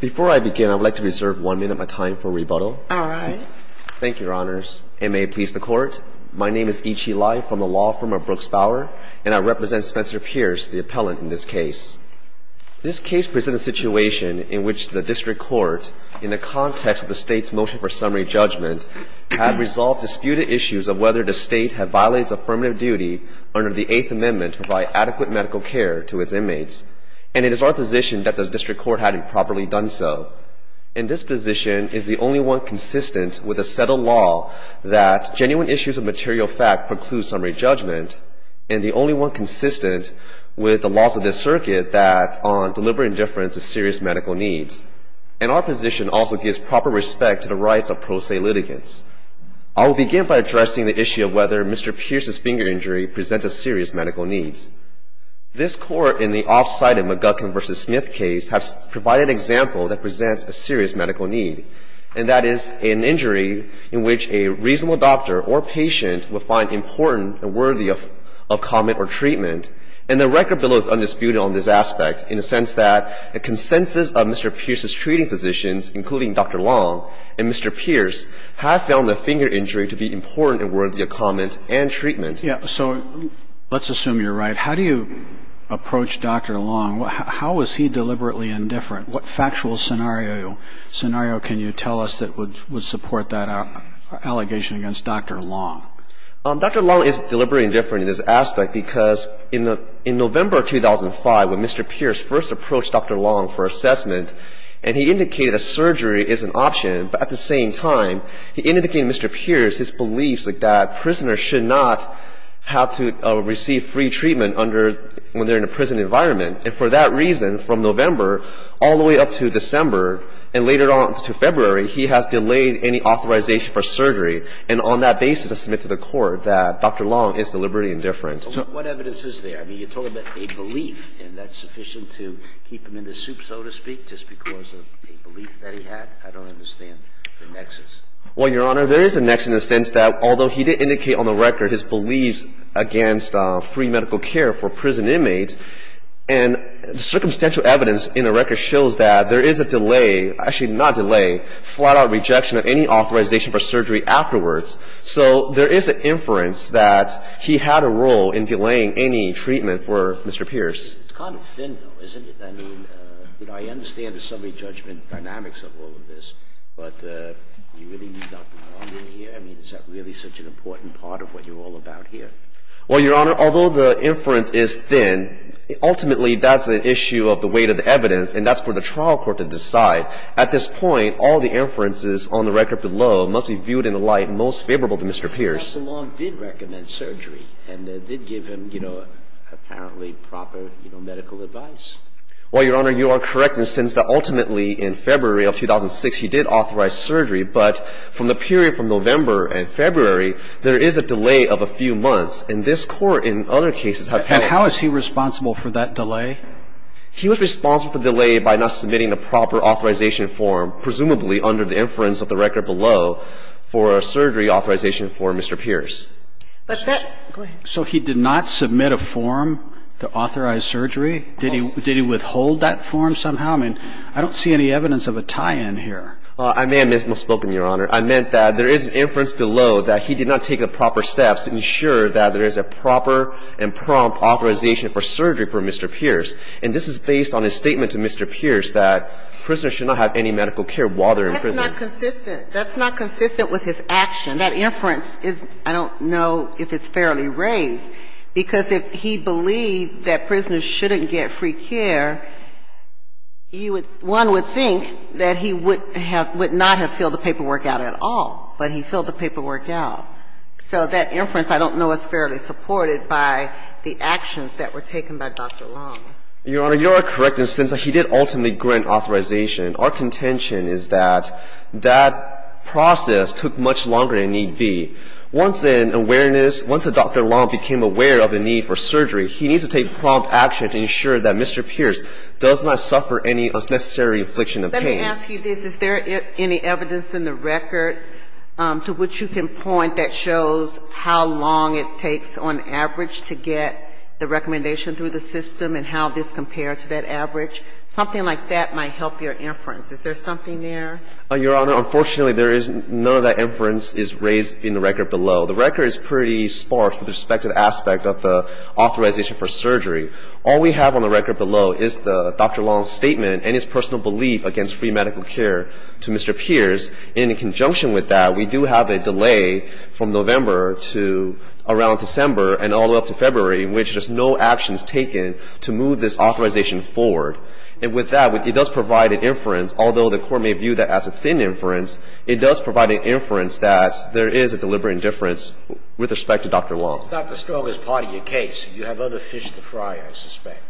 Before I begin, I would like to reserve one minute of my time for rebuttal. All right. Thank you, Your Honors. And may it please the Court, my name is Ichi Lai from the law firm of Brooks-Bauer, and I represent Spencer Pierce, the appellant in this case. This case presents a situation in which the District Court, in the context of the State's motion for summary judgment, has resolved disputed issues of whether the State had violated its affirmative duty under the Eighth Amendment to provide adequate medical care to its inmates. And it is our position that the District Court hadn't properly done so. And this position is the only one consistent with a settled law that genuine issues of material fact preclude summary judgment, and the only one consistent with the laws of this circuit that deliver indifference to serious medical needs. And our position also gives proper respect to the rights of pro se litigants. I will begin by addressing the issue of whether Mr. Pierce's finger injury presents a serious medical need. This Court, in the off-site of McGuckin v. Smith case, has provided an example that presents a serious medical need, and that is an injury in which a reasonable doctor or patient would find important and worthy of comment or treatment. And the record bill is undisputed on this aspect in the sense that a consensus of Mr. Pierce's treating physicians, including Dr. Long and Mr. Pierce, have found the finger injury to be important and worthy of comment and treatment. So let's assume you're right. How do you approach Dr. Long? How is he deliberately indifferent? What factual scenario can you tell us that would support that allegation against Dr. Long? Dr. Long is deliberately indifferent in this aspect because in November 2005, when Mr. Pierce first approached Dr. Long for assessment, and he indicated that surgery is an option, but at the same time, he indicated to Mr. Pierce his beliefs that prisoners should not have to receive free treatment under the prison environment. And for that reason, from November all the way up to December and later on to February, he has delayed any authorization for surgery. And on that basis, I submit to the Court that Dr. Long is deliberately indifferent. What evidence is there? I mean, you're talking about a belief, and that's sufficient to keep him in the soup, so to speak, just because of a belief that he had? I don't understand the nexus. Well, Your Honor, there is a nexus in the sense that although he did indicate on the record his beliefs against free medical care for prison inmates, and the circumstantial evidence in the record shows that there is a delay, actually not delay, flat-out rejection of any authorization for surgery afterwards. So there is an inference that he had a role in delaying any treatment for Mr. Pierce. It's kind of thin, though, isn't it? I mean, you know, I understand the summary judgment dynamics of all of this, but do you really need Dr. Long in here? I mean, is that really such an important part of what you're all about here? Well, Your Honor, although the inference is thin, ultimately that's an issue of the weight of the evidence, and that's for the trial court to decide. At this point, all the inferences on the record below must be viewed in the light most favorable to Mr. Pierce. But Dr. Long did recommend surgery, and they did give him, you know, apparently proper, you know, medical advice. Well, Your Honor, you are correct in the sense that ultimately in February of 2006 he did authorize surgery. But from the period from November and February, there is a delay of a few months. And this Court, in other cases, have penalties. And how is he responsible for that delay? He was responsible for the delay by not submitting a proper authorization form, presumably under the inference of the record below, for a surgery authorization for Mr. Pierce. But that go ahead. So he did not submit a form to authorize surgery? Did he withhold that form somehow? And I don't see any evidence of a tie-in here. Well, I may have misspoken, Your Honor. I meant that there is an inference below that he did not take the proper steps to ensure that there is a proper and prompt authorization for surgery for Mr. Pierce. And this is based on his statement to Mr. Pierce that prisoners should not have any medical care while they're in prison. That's not consistent. That's not consistent with his action. That inference is, I don't know if it's fairly raised, because if he believed that prisoners shouldn't get free care, one would think that he would not have filled the paperwork out at all, but he filled the paperwork out. So that inference I don't know is fairly supported by the actions that were taken by Dr. Long. Your Honor, you are correct in the sense that he did ultimately grant authorization. Our contention is that that process took much longer than need be. Once in awareness, once Dr. Long became aware of the need for surgery, he needs to take prompt action to ensure that Mr. Pierce does not suffer any unnecessary infliction of pain. Let me ask you this. Is there any evidence in the record to which you can point that shows how long it takes on average to get the recommendation through the system and how this compares to that average? Something like that might help your inference. Is there something there? Your Honor, unfortunately, there isn't. None of that inference is raised in the record below. The record is pretty sparse with respect to the aspect of the authorization for surgery. All we have on the record below is Dr. Long's statement and his personal belief against free medical care to Mr. Pierce. In conjunction with that, we do have a delay from November to around December and all the way up to February in which there's no actions taken to move this authorization forward. And with that, it does provide an inference, although the Court may view that as a thin inference, it does provide an inference that there is a deliberate indifference with respect to Dr. Long. It's not the Scoggins party in your case. You have other fish to fry, I suspect.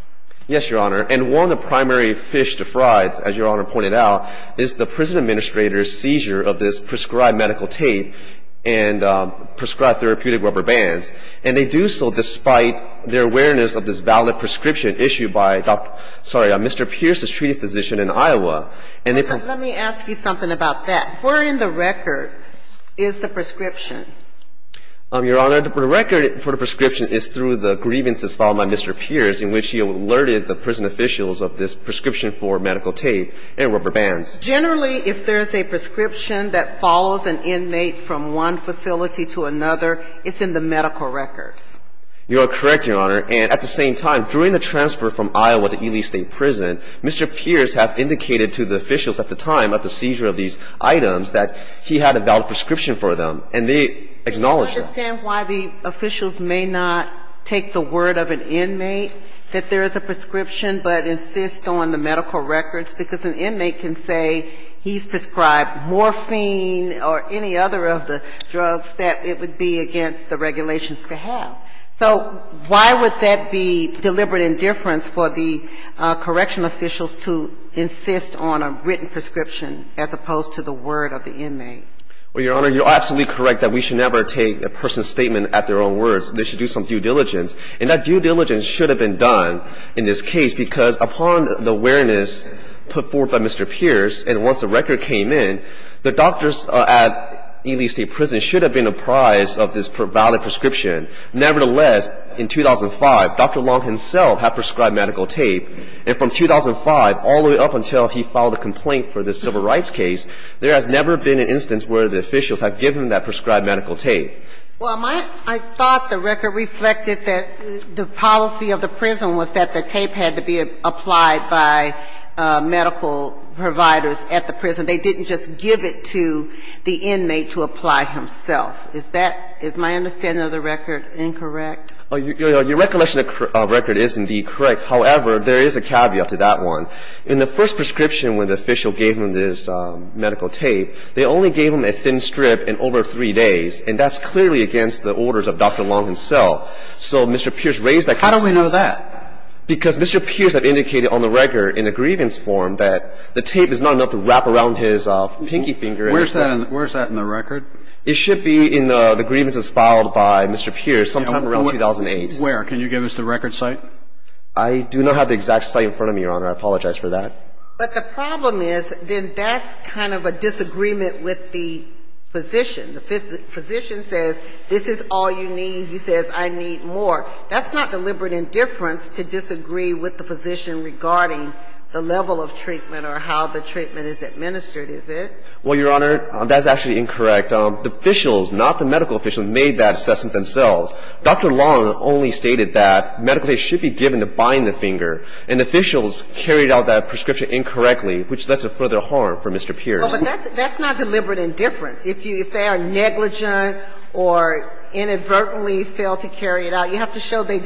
Yes, Your Honor. And one of the primary fish to fry, as Your Honor pointed out, is the prison administrator's seizure of this prescribed medical tape and prescribed therapeutic rubber bands. And they do so despite their awareness of this valid prescription issued by Dr. Long, and they do so despite their knowledge of the validity of the prescription in the medical records of Mr. Pierce, the treaty physician in Iowa. Let me ask you something about that. Where in the record is the prescription? Your Honor, the record for the prescription is through the grievances filed by Mr. Pierce in which he alerted the prison officials of this prescription for medical records in Iowa to Ely State Prison. Mr. Pierce has indicated to the officials at the time of the seizure of these items that he had a valid prescription for them, and they acknowledge that. Can you understand why the officials may not take the word of an inmate that there is a prescription, but insist on the medical records? Because an inmate can say he's prescribed morphine or any other of the drugs that it would be against the regulations to have. So why would that be deliberate indifference for the correctional officials to insist on a written prescription as opposed to the word of the inmate? Well, Your Honor, you're absolutely correct that we should never take a person's statement at their own words. They should do some due diligence. And that due diligence should have been done in this case because upon the awareness put forward by Mr. Pierce, and once the record came in, the doctors at Ely State Prison should have been apprised of this valid prescription. Nevertheless, in 2005, Dr. Long himself had prescribed medical tape. And from 2005 all the way up until he filed a complaint for the civil rights case, there has never been an instance where the officials have given that prescribed medical tape. Well, I thought the record reflected that the policy of the prison was that the tape had to be applied by medical providers at the prison. They didn't just give it to the inmate to apply himself. Is that – is my understanding of the record incorrect? Your recollection of the record is indeed correct. However, there is a caveat to that one. In the first prescription when the official gave him this medical tape, they only gave him a thin strip and over three days. And that's clearly against the orders of Dr. Long himself. So Mr. Pierce raised that concern. How do we know that? Because Mr. Pierce had indicated on the record in a grievance form that the tape is not enough to wrap around his pinky finger. Where's that in the record? It should be in the grievances filed by Mr. Pierce sometime around 2008. Where? Can you give us the record site? I do not have the exact site in front of me, Your Honor. I apologize for that. But the problem is then that's kind of a disagreement with the physician. The physician says this is all you need. He says I need more. That's not deliberate indifference to disagree with the physician regarding the level of treatment or how the treatment is administered, is it? Well, Your Honor, that's actually incorrect. The officials, not the medical officials, made that assessment themselves. Dr. Long only stated that medical tape should be given to bind the finger. And officials carried out that prescription incorrectly, which led to further harm for Mr. Pierce. But that's not deliberate indifference. If they are negligent or inadvertently fail to carry it out, you have to show they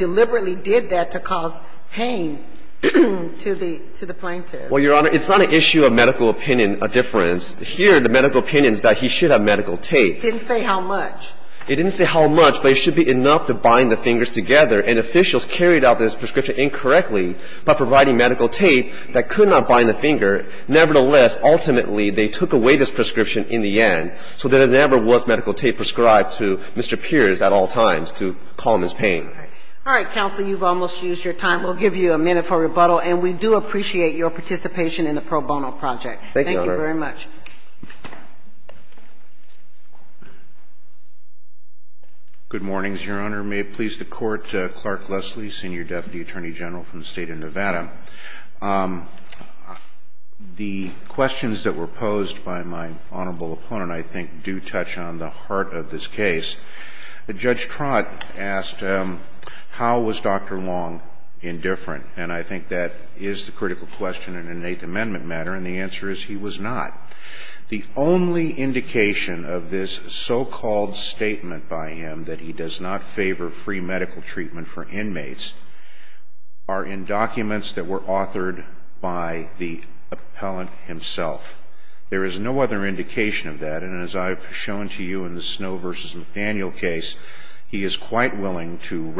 Well, Your Honor, it's not an issue of medical opinion indifference. Here, the medical opinion is that he should have medical tape. It didn't say how much. It didn't say how much, but it should be enough to bind the fingers together. And officials carried out this prescription incorrectly by providing medical tape that could not bind the finger. Nevertheless, ultimately, they took away this prescription in the end so that it never was medical tape prescribed to Mr. Pierce at all times to calm his pain. All right. Counsel, you've almost used your time. We'll give you a minute for rebuttal. And we do appreciate your participation in the pro bono project. Thank you, Your Honor. Thank you very much. Good morning, Your Honor. May it please the Court, Clark Leslie, Senior Deputy Attorney General from the State of Nevada. The questions that were posed by my honorable opponent, I think, do touch on the heart of this case. Judge Trott asked, how was Dr. Long indifferent? And I think that is the critical question in an Eighth Amendment matter. And the answer is he was not. The only indication of this so-called statement by him that he does not favor free medical treatment for inmates are in documents that were authored by the appellant himself. There is no other indication of that. And as I've shown to you in the Snow v. McDaniel case, he is quite willing to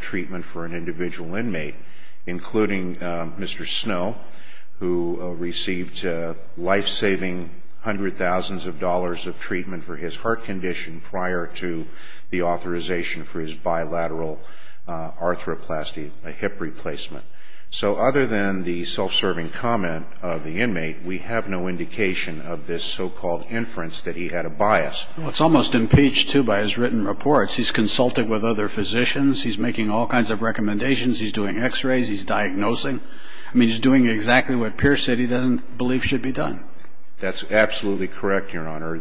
treatment for an individual inmate, including Mr. Snow, who received life-saving hundreds of thousands of dollars of treatment for his heart condition prior to the authorization for his bilateral arthroplasty, a hip replacement. So other than the self-serving comment of the inmate, we have no indication of this so-called inference that he had a bias. Well, it's almost impeached, too, by his written reports. He's consulted with other physicians. He's making all kinds of recommendations. He's doing x-rays. He's diagnosing. I mean, he's doing exactly what Pierce said he doesn't believe should be done. That's absolutely correct, Your Honor.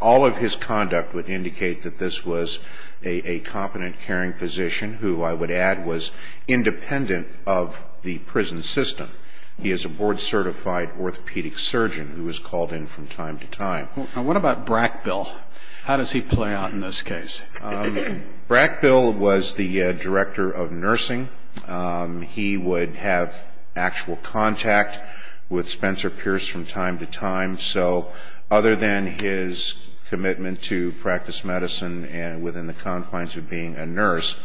All of his conduct would indicate that this was a competent, caring physician who, I would add, was independent of the prison system. He is a board-certified orthopedic surgeon who was called in from time to time. Now, what about Brackbill? How does he play out in this case? Brackbill was the director of nursing. He would have actual contact with Spencer Pierce from time to time. So other than his commitment to practice medicine and within the confines of being a nurse,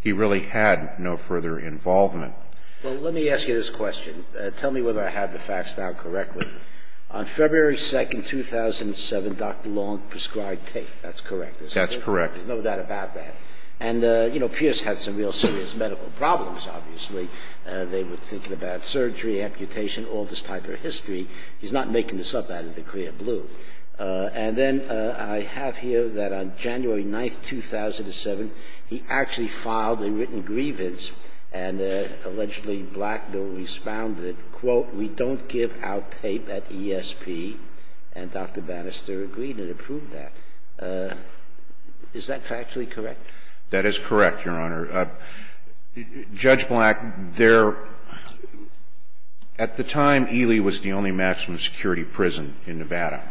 he really had no further involvement. Well, let me ask you this question. Tell me whether I have the facts down correctly. On February 2, 2007, Dr. Long prescribed tape. That's correct. That's correct. There's no doubt about that. And, you know, Pierce had some real serious medical problems, obviously. They were thinking about surgery, amputation, all this type of history. He's not making this up out of the clear blue. And then I have here that on January 9, 2007, he actually filed a written grievance and allegedly Brackbill responded, quote, we don't give out tape at ESP. And Dr. Bannister agreed and approved that. Is that factually correct? That is correct, Your Honor. Judge Brack, there at the time, Ely was the only maximum security prison in Nevada.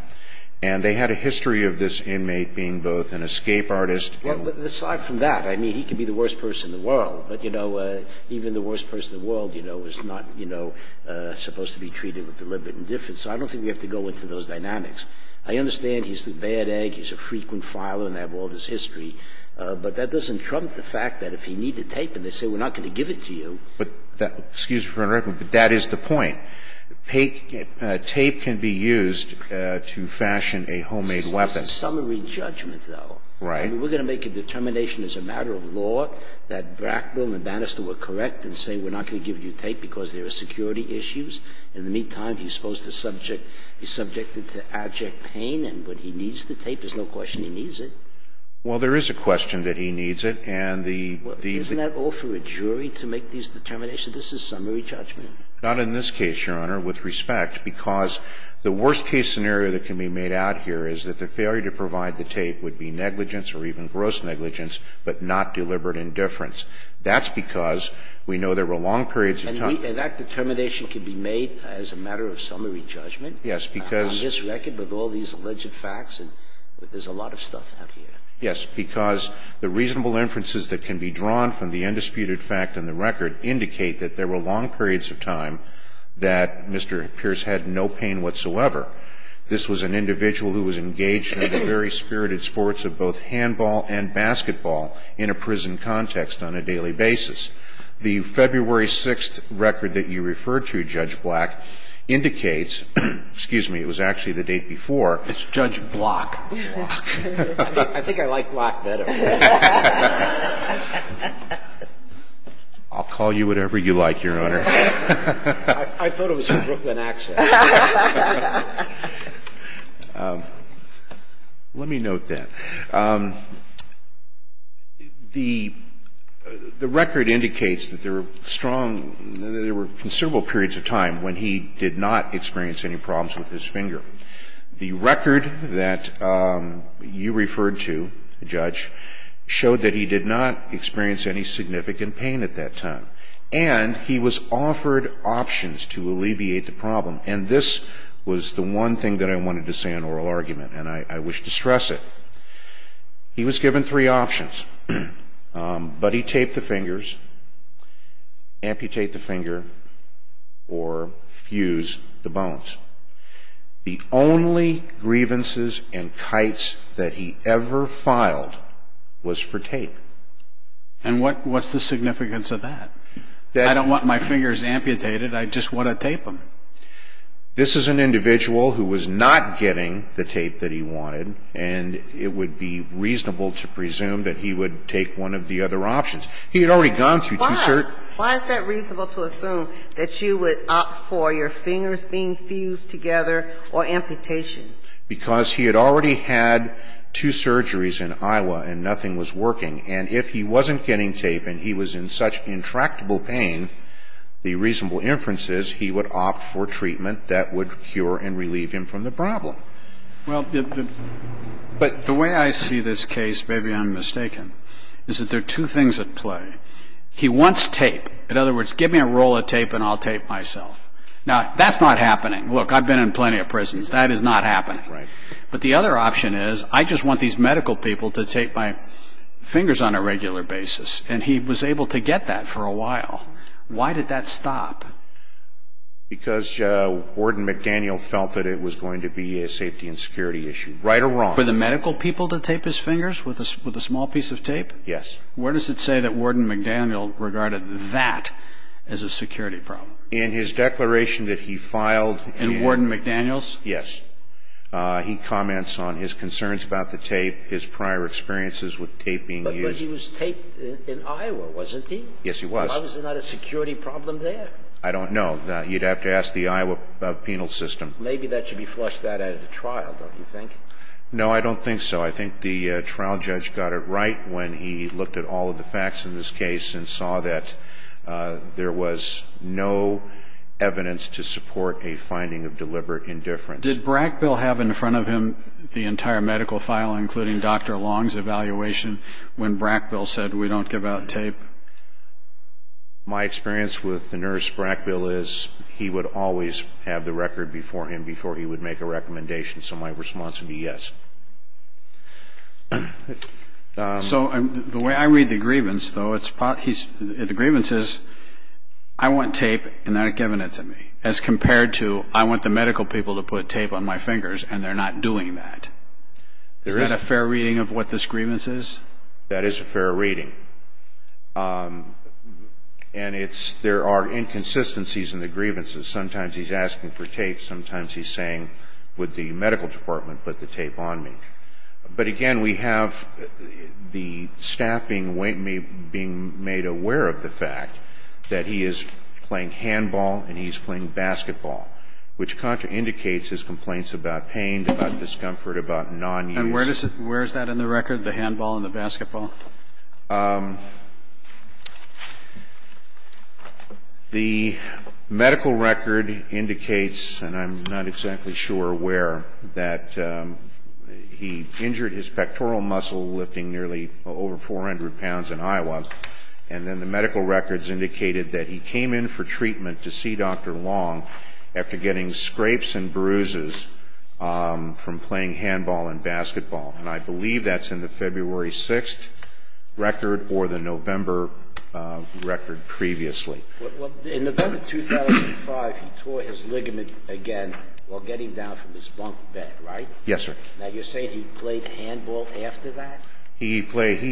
And they had a history of this inmate being both an escape artist and Well, aside from that, I mean, he could be the worst person in the world. But, you know, even the worst person in the world, you know, was not, you know, supposed to be treated with deliberate indifference. So I don't think we have to go into those dynamics. I understand he's the bad egg. He's a frequent filer and they have all this history. But that doesn't trump the fact that if he needed tape and they say we're not going to give it to you Excuse me for interrupting, but that is the point. Tape can be used to fashion a homemade weapon. This is a summary judgment, though. Right. I mean, we're going to make a determination as a matter of law that Brackville and Bannister were correct in saying we're not going to give you tape because there are security issues. In the meantime, he's supposed to subject the subject to abject pain, and when he needs the tape, there's no question he needs it. Well, there is a question that he needs it, and the Isn't that all for a jury to make these determinations? This is summary judgment. Not in this case, Your Honor, with respect, because the worst-case scenario that can be made out here is that the failure to provide the tape would be negligence or even gross negligence, but not deliberate indifference. That's because we know there were long periods of time And that determination can be made as a matter of summary judgment? Yes, because On this record, with all these alleged facts, there's a lot of stuff out here. Yes, because the reasonable inferences that can be drawn from the undisputed fact in the record indicate that there were long periods of time that Mr. Pierce had no pain whatsoever. This was an individual who was engaged in the very spirited sports of both handball and basketball in a prison context on a daily basis. The February 6th record that you referred to, Judge Black, indicates, excuse me, it was actually the date before It's Judge Block. I think I like Block better. I'll call you whatever you like, Your Honor. I thought it was your Brooklyn accent. Let me note that. The record indicates that there were strong, that there were considerable periods of time when he did not experience any problems with his finger. The record that you referred to, Judge, showed that he did not experience any significant pain at that time, and he was offered options to alleviate the problem, and this was the one thing that I wanted to say in oral argument, and I wish to stress it. He was given three options, but he taped the fingers, amputated the finger, or fused the bones. The only grievances and kites that he ever filed was for tape. And what's the significance of that? I don't want my fingers amputated. I just want to tape them. This is an individual who was not getting the tape that he wanted, and it would be reasonable to presume that he would take one of the other options. He had already gone through two certain Why is that reasonable to assume that you would opt for your fingers being fused together or amputation? Because he had already had two surgeries in Iowa and nothing was working, and if he wasn't getting tape and he was in such intractable pain, the reasonable inference is he would opt for treatment that would cure and relieve him from the problem. Well, but the way I see this case, maybe I'm mistaken, is that there are two things at play. He wants tape. In other words, give me a roll of tape and I'll tape myself. Now, that's not happening. Look, I've been in plenty of prisons. That is not happening. Right. But the other option is I just want these medical people to tape my fingers on a regular basis. And he was able to get that for a while. Why did that stop? Because Warden McDaniel felt that it was going to be a safety and security issue. Right or wrong? For the medical people to tape his fingers with a small piece of tape? Yes. Where does it say that Warden McDaniel regarded that as a security problem? In his declaration that he filed... In Warden McDaniel's? Yes. He comments on his concerns about the tape, his prior experiences with tape being used. But he was taped in Iowa, wasn't he? Yes, he was. Why was there not a security problem there? I don't know. You'd have to ask the Iowa penal system. Maybe that should be flushed out at a trial, don't you think? No, I don't think so. I think the trial judge got it right when he looked at all of the facts in this case and saw that there was no evidence to support a finding of deliberate indifference. Did Brackbill have in front of him the entire medical file, including Dr. Long's evaluation, when Brackbill said we don't give out tape? My experience with the nurse Brackbill is he would always have the record before him, before he would make a recommendation. So my response would be yes. So the way I read the grievance, though, the grievance is I want tape and they're able to put tape on my fingers and they're not doing that. Is that a fair reading of what this grievance is? That is a fair reading. And there are inconsistencies in the grievances. Sometimes he's asking for tape, sometimes he's saying would the medical department put the tape on me. But, again, we have the staff being made aware of the fact that he is playing handball and he is playing basketball, which indicates his complaints about pain, about discomfort, about nonuse. And where is that in the record, the handball and the basketball? The medical record indicates, and I'm not exactly sure where, that he injured his pectoral muscle lifting nearly over 400 pounds in Iowa, and then the medical records indicated that he came in for treatment to see Dr. Long after getting scrapes and bruises from playing handball and basketball. And I believe that's in the February 6th record or the November record previously. In November 2005, he tore his ligament again while getting down from his bunk bed, right? Yes, sir. Now, you're saying he played handball after that? He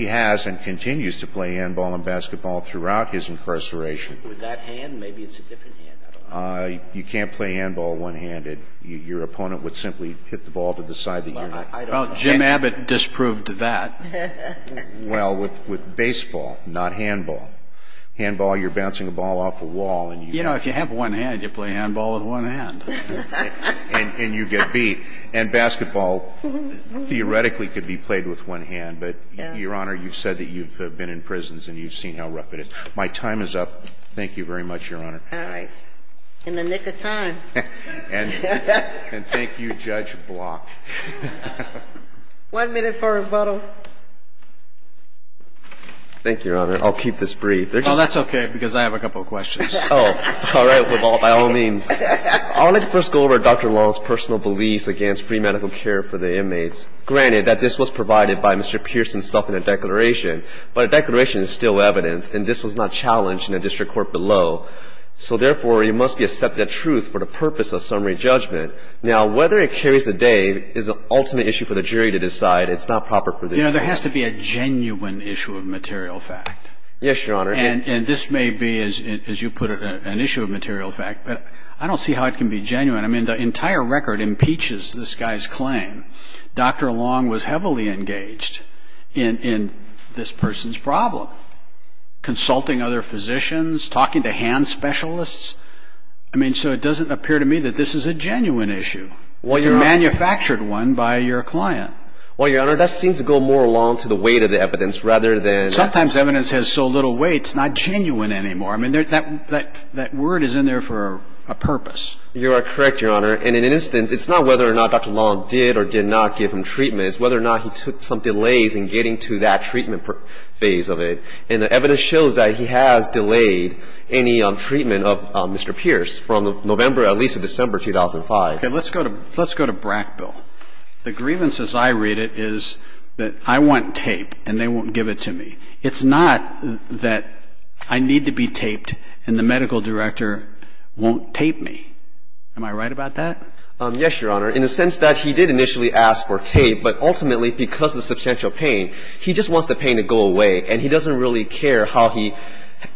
has and continues to play handball and basketball throughout his incarceration. With that hand? Maybe it's a different hand. I don't know. You can't play handball one-handed. Your opponent would simply hit the ball to the side of your neck. Well, Jim Abbott disproved that. Well, with baseball, not handball. Handball, you're bouncing a ball off a wall. You know, if you have one hand, you play handball with one hand. And you get beat. And basketball, theoretically, could be played with one hand. But, Your Honor, you've said that you've been in prisons and you've seen how rough it is. My time is up. Thank you very much, Your Honor. All right. In the nick of time. And thank you, Judge Block. One minute for rebuttal. Thank you, Your Honor. I'll keep this brief. Oh, that's okay because I have a couple of questions. Oh, all right. By all means. I'd like to first go over Dr. Long's personal beliefs against free medical care for the inmates. Granted that this was provided by Mr. Pierce himself in the declaration. But the declaration is still evidence. And this was not challenged in the district court below. So, therefore, it must be accepted as truth for the purpose of summary judgment. Now, whether it carries the day is an ultimate issue for the jury to decide. It's not proper for the jury. You know, there has to be a genuine issue of material fact. Yes, Your Honor. And this may be, as you put it, an issue of material fact. But I don't see how it can be genuine. I mean, the entire record impeaches this guy's claim. Dr. Long was heavily engaged in this person's problem. Consulting other physicians, talking to hand specialists. I mean, so it doesn't appear to me that this is a genuine issue. It's a manufactured one by your client. Well, Your Honor, that seems to go more along to the weight of the evidence rather than... It's not genuine anymore. I mean, that word is in there for a purpose. You are correct, Your Honor. And in an instance, it's not whether or not Dr. Long did or did not give him treatment. It's whether or not he took some delays in getting to that treatment phase of it. And the evidence shows that he has delayed any treatment of Mr. Pierce from November at least to December 2005. Okay. Let's go to Brackbill. The grievance, as I read it, is that I want tape and they won't give it to me. It's not that I need to be taped and the medical director won't tape me. Am I right about that? Yes, Your Honor, in the sense that he did initially ask for tape, but ultimately because of substantial pain, he just wants the pain to go away and he doesn't really care how he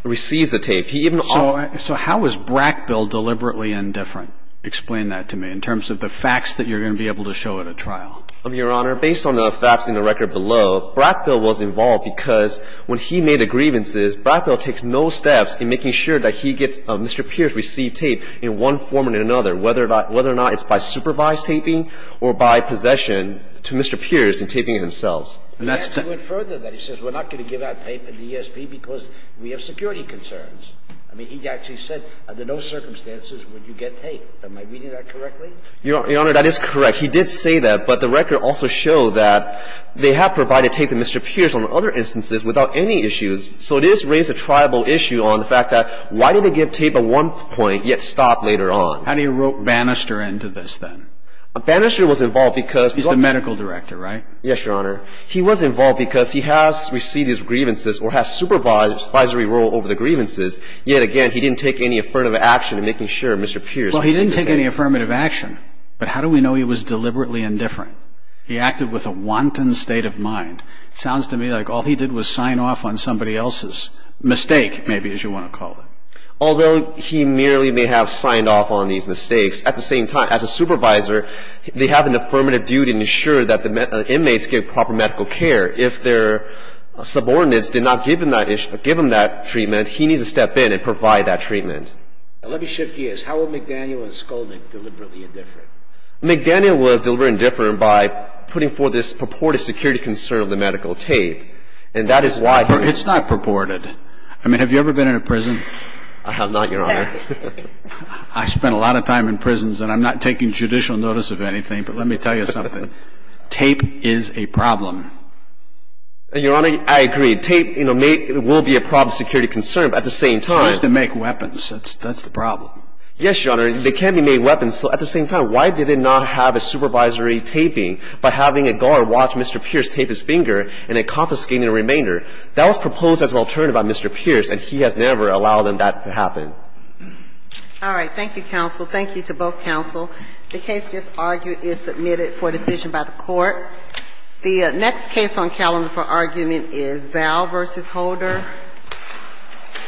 receives the tape. He even... So how is Brackbill deliberately indifferent? Explain that to me in terms of the facts that you're going to be able to show at a trial. Your Honor, based on the facts in the record below, Brackbill was involved because when he made the grievances, Brackbill takes no steps in making sure that he gets Mr. Pierce received tape in one form or another, whether or not it's by supervised taping or by possession to Mr. Pierce in taping it himself. And that's the... He went further than that. He says we're not going to give out tape in the ESP because we have security concerns. I mean, he actually said under no circumstances would you get tape. Am I reading that correctly? Your Honor, that is correct. He did say that, but the record also showed that they have provided tape to Mr. Pierce on other instances without any issues. So it does raise a tribal issue on the fact that why did they give tape at one point yet stop later on? How do you rope Bannister into this then? Bannister was involved because... He's the medical director, right? Yes, Your Honor. He was involved because he has received his grievances or has supervisory role over the grievances, yet again, he didn't take any affirmative action in making sure Mr. Pierce received the tape. He didn't take any affirmative action, but how do we know he was deliberately indifferent? He acted with a wanton state of mind. It sounds to me like all he did was sign off on somebody else's mistake, maybe, as you want to call it. Although he merely may have signed off on these mistakes, at the same time, as a supervisor, they have an affirmative duty to ensure that the inmates get proper medical care. If their subordinates did not give him that treatment, he needs to step in and provide that treatment. Let me shift gears. How were McDaniel and Skolnick deliberately indifferent? McDaniel was deliberately indifferent by putting forth this purported security concern of the medical tape, and that is why he... It's not purported. I mean, have you ever been in a prison? I have not, Your Honor. I spend a lot of time in prisons, and I'm not taking judicial notice of anything, but let me tell you something. Tape is a problem. Your Honor, I agree. Tape will be a problem, security concern, but at the same time... That's the problem. Yes, Your Honor. They can be made weapons. So at the same time, why did they not have a supervisory taping by having a guard watch Mr. Pierce tape his finger and then confiscating the remainder? That was proposed as an alternative by Mr. Pierce, and he has never allowed that to happen. All right. Thank you, counsel. Thank you to both counsel. The case just argued is submitted for decision by the Court. The next case on calendar for argument is Zell v. Holder. Thank you.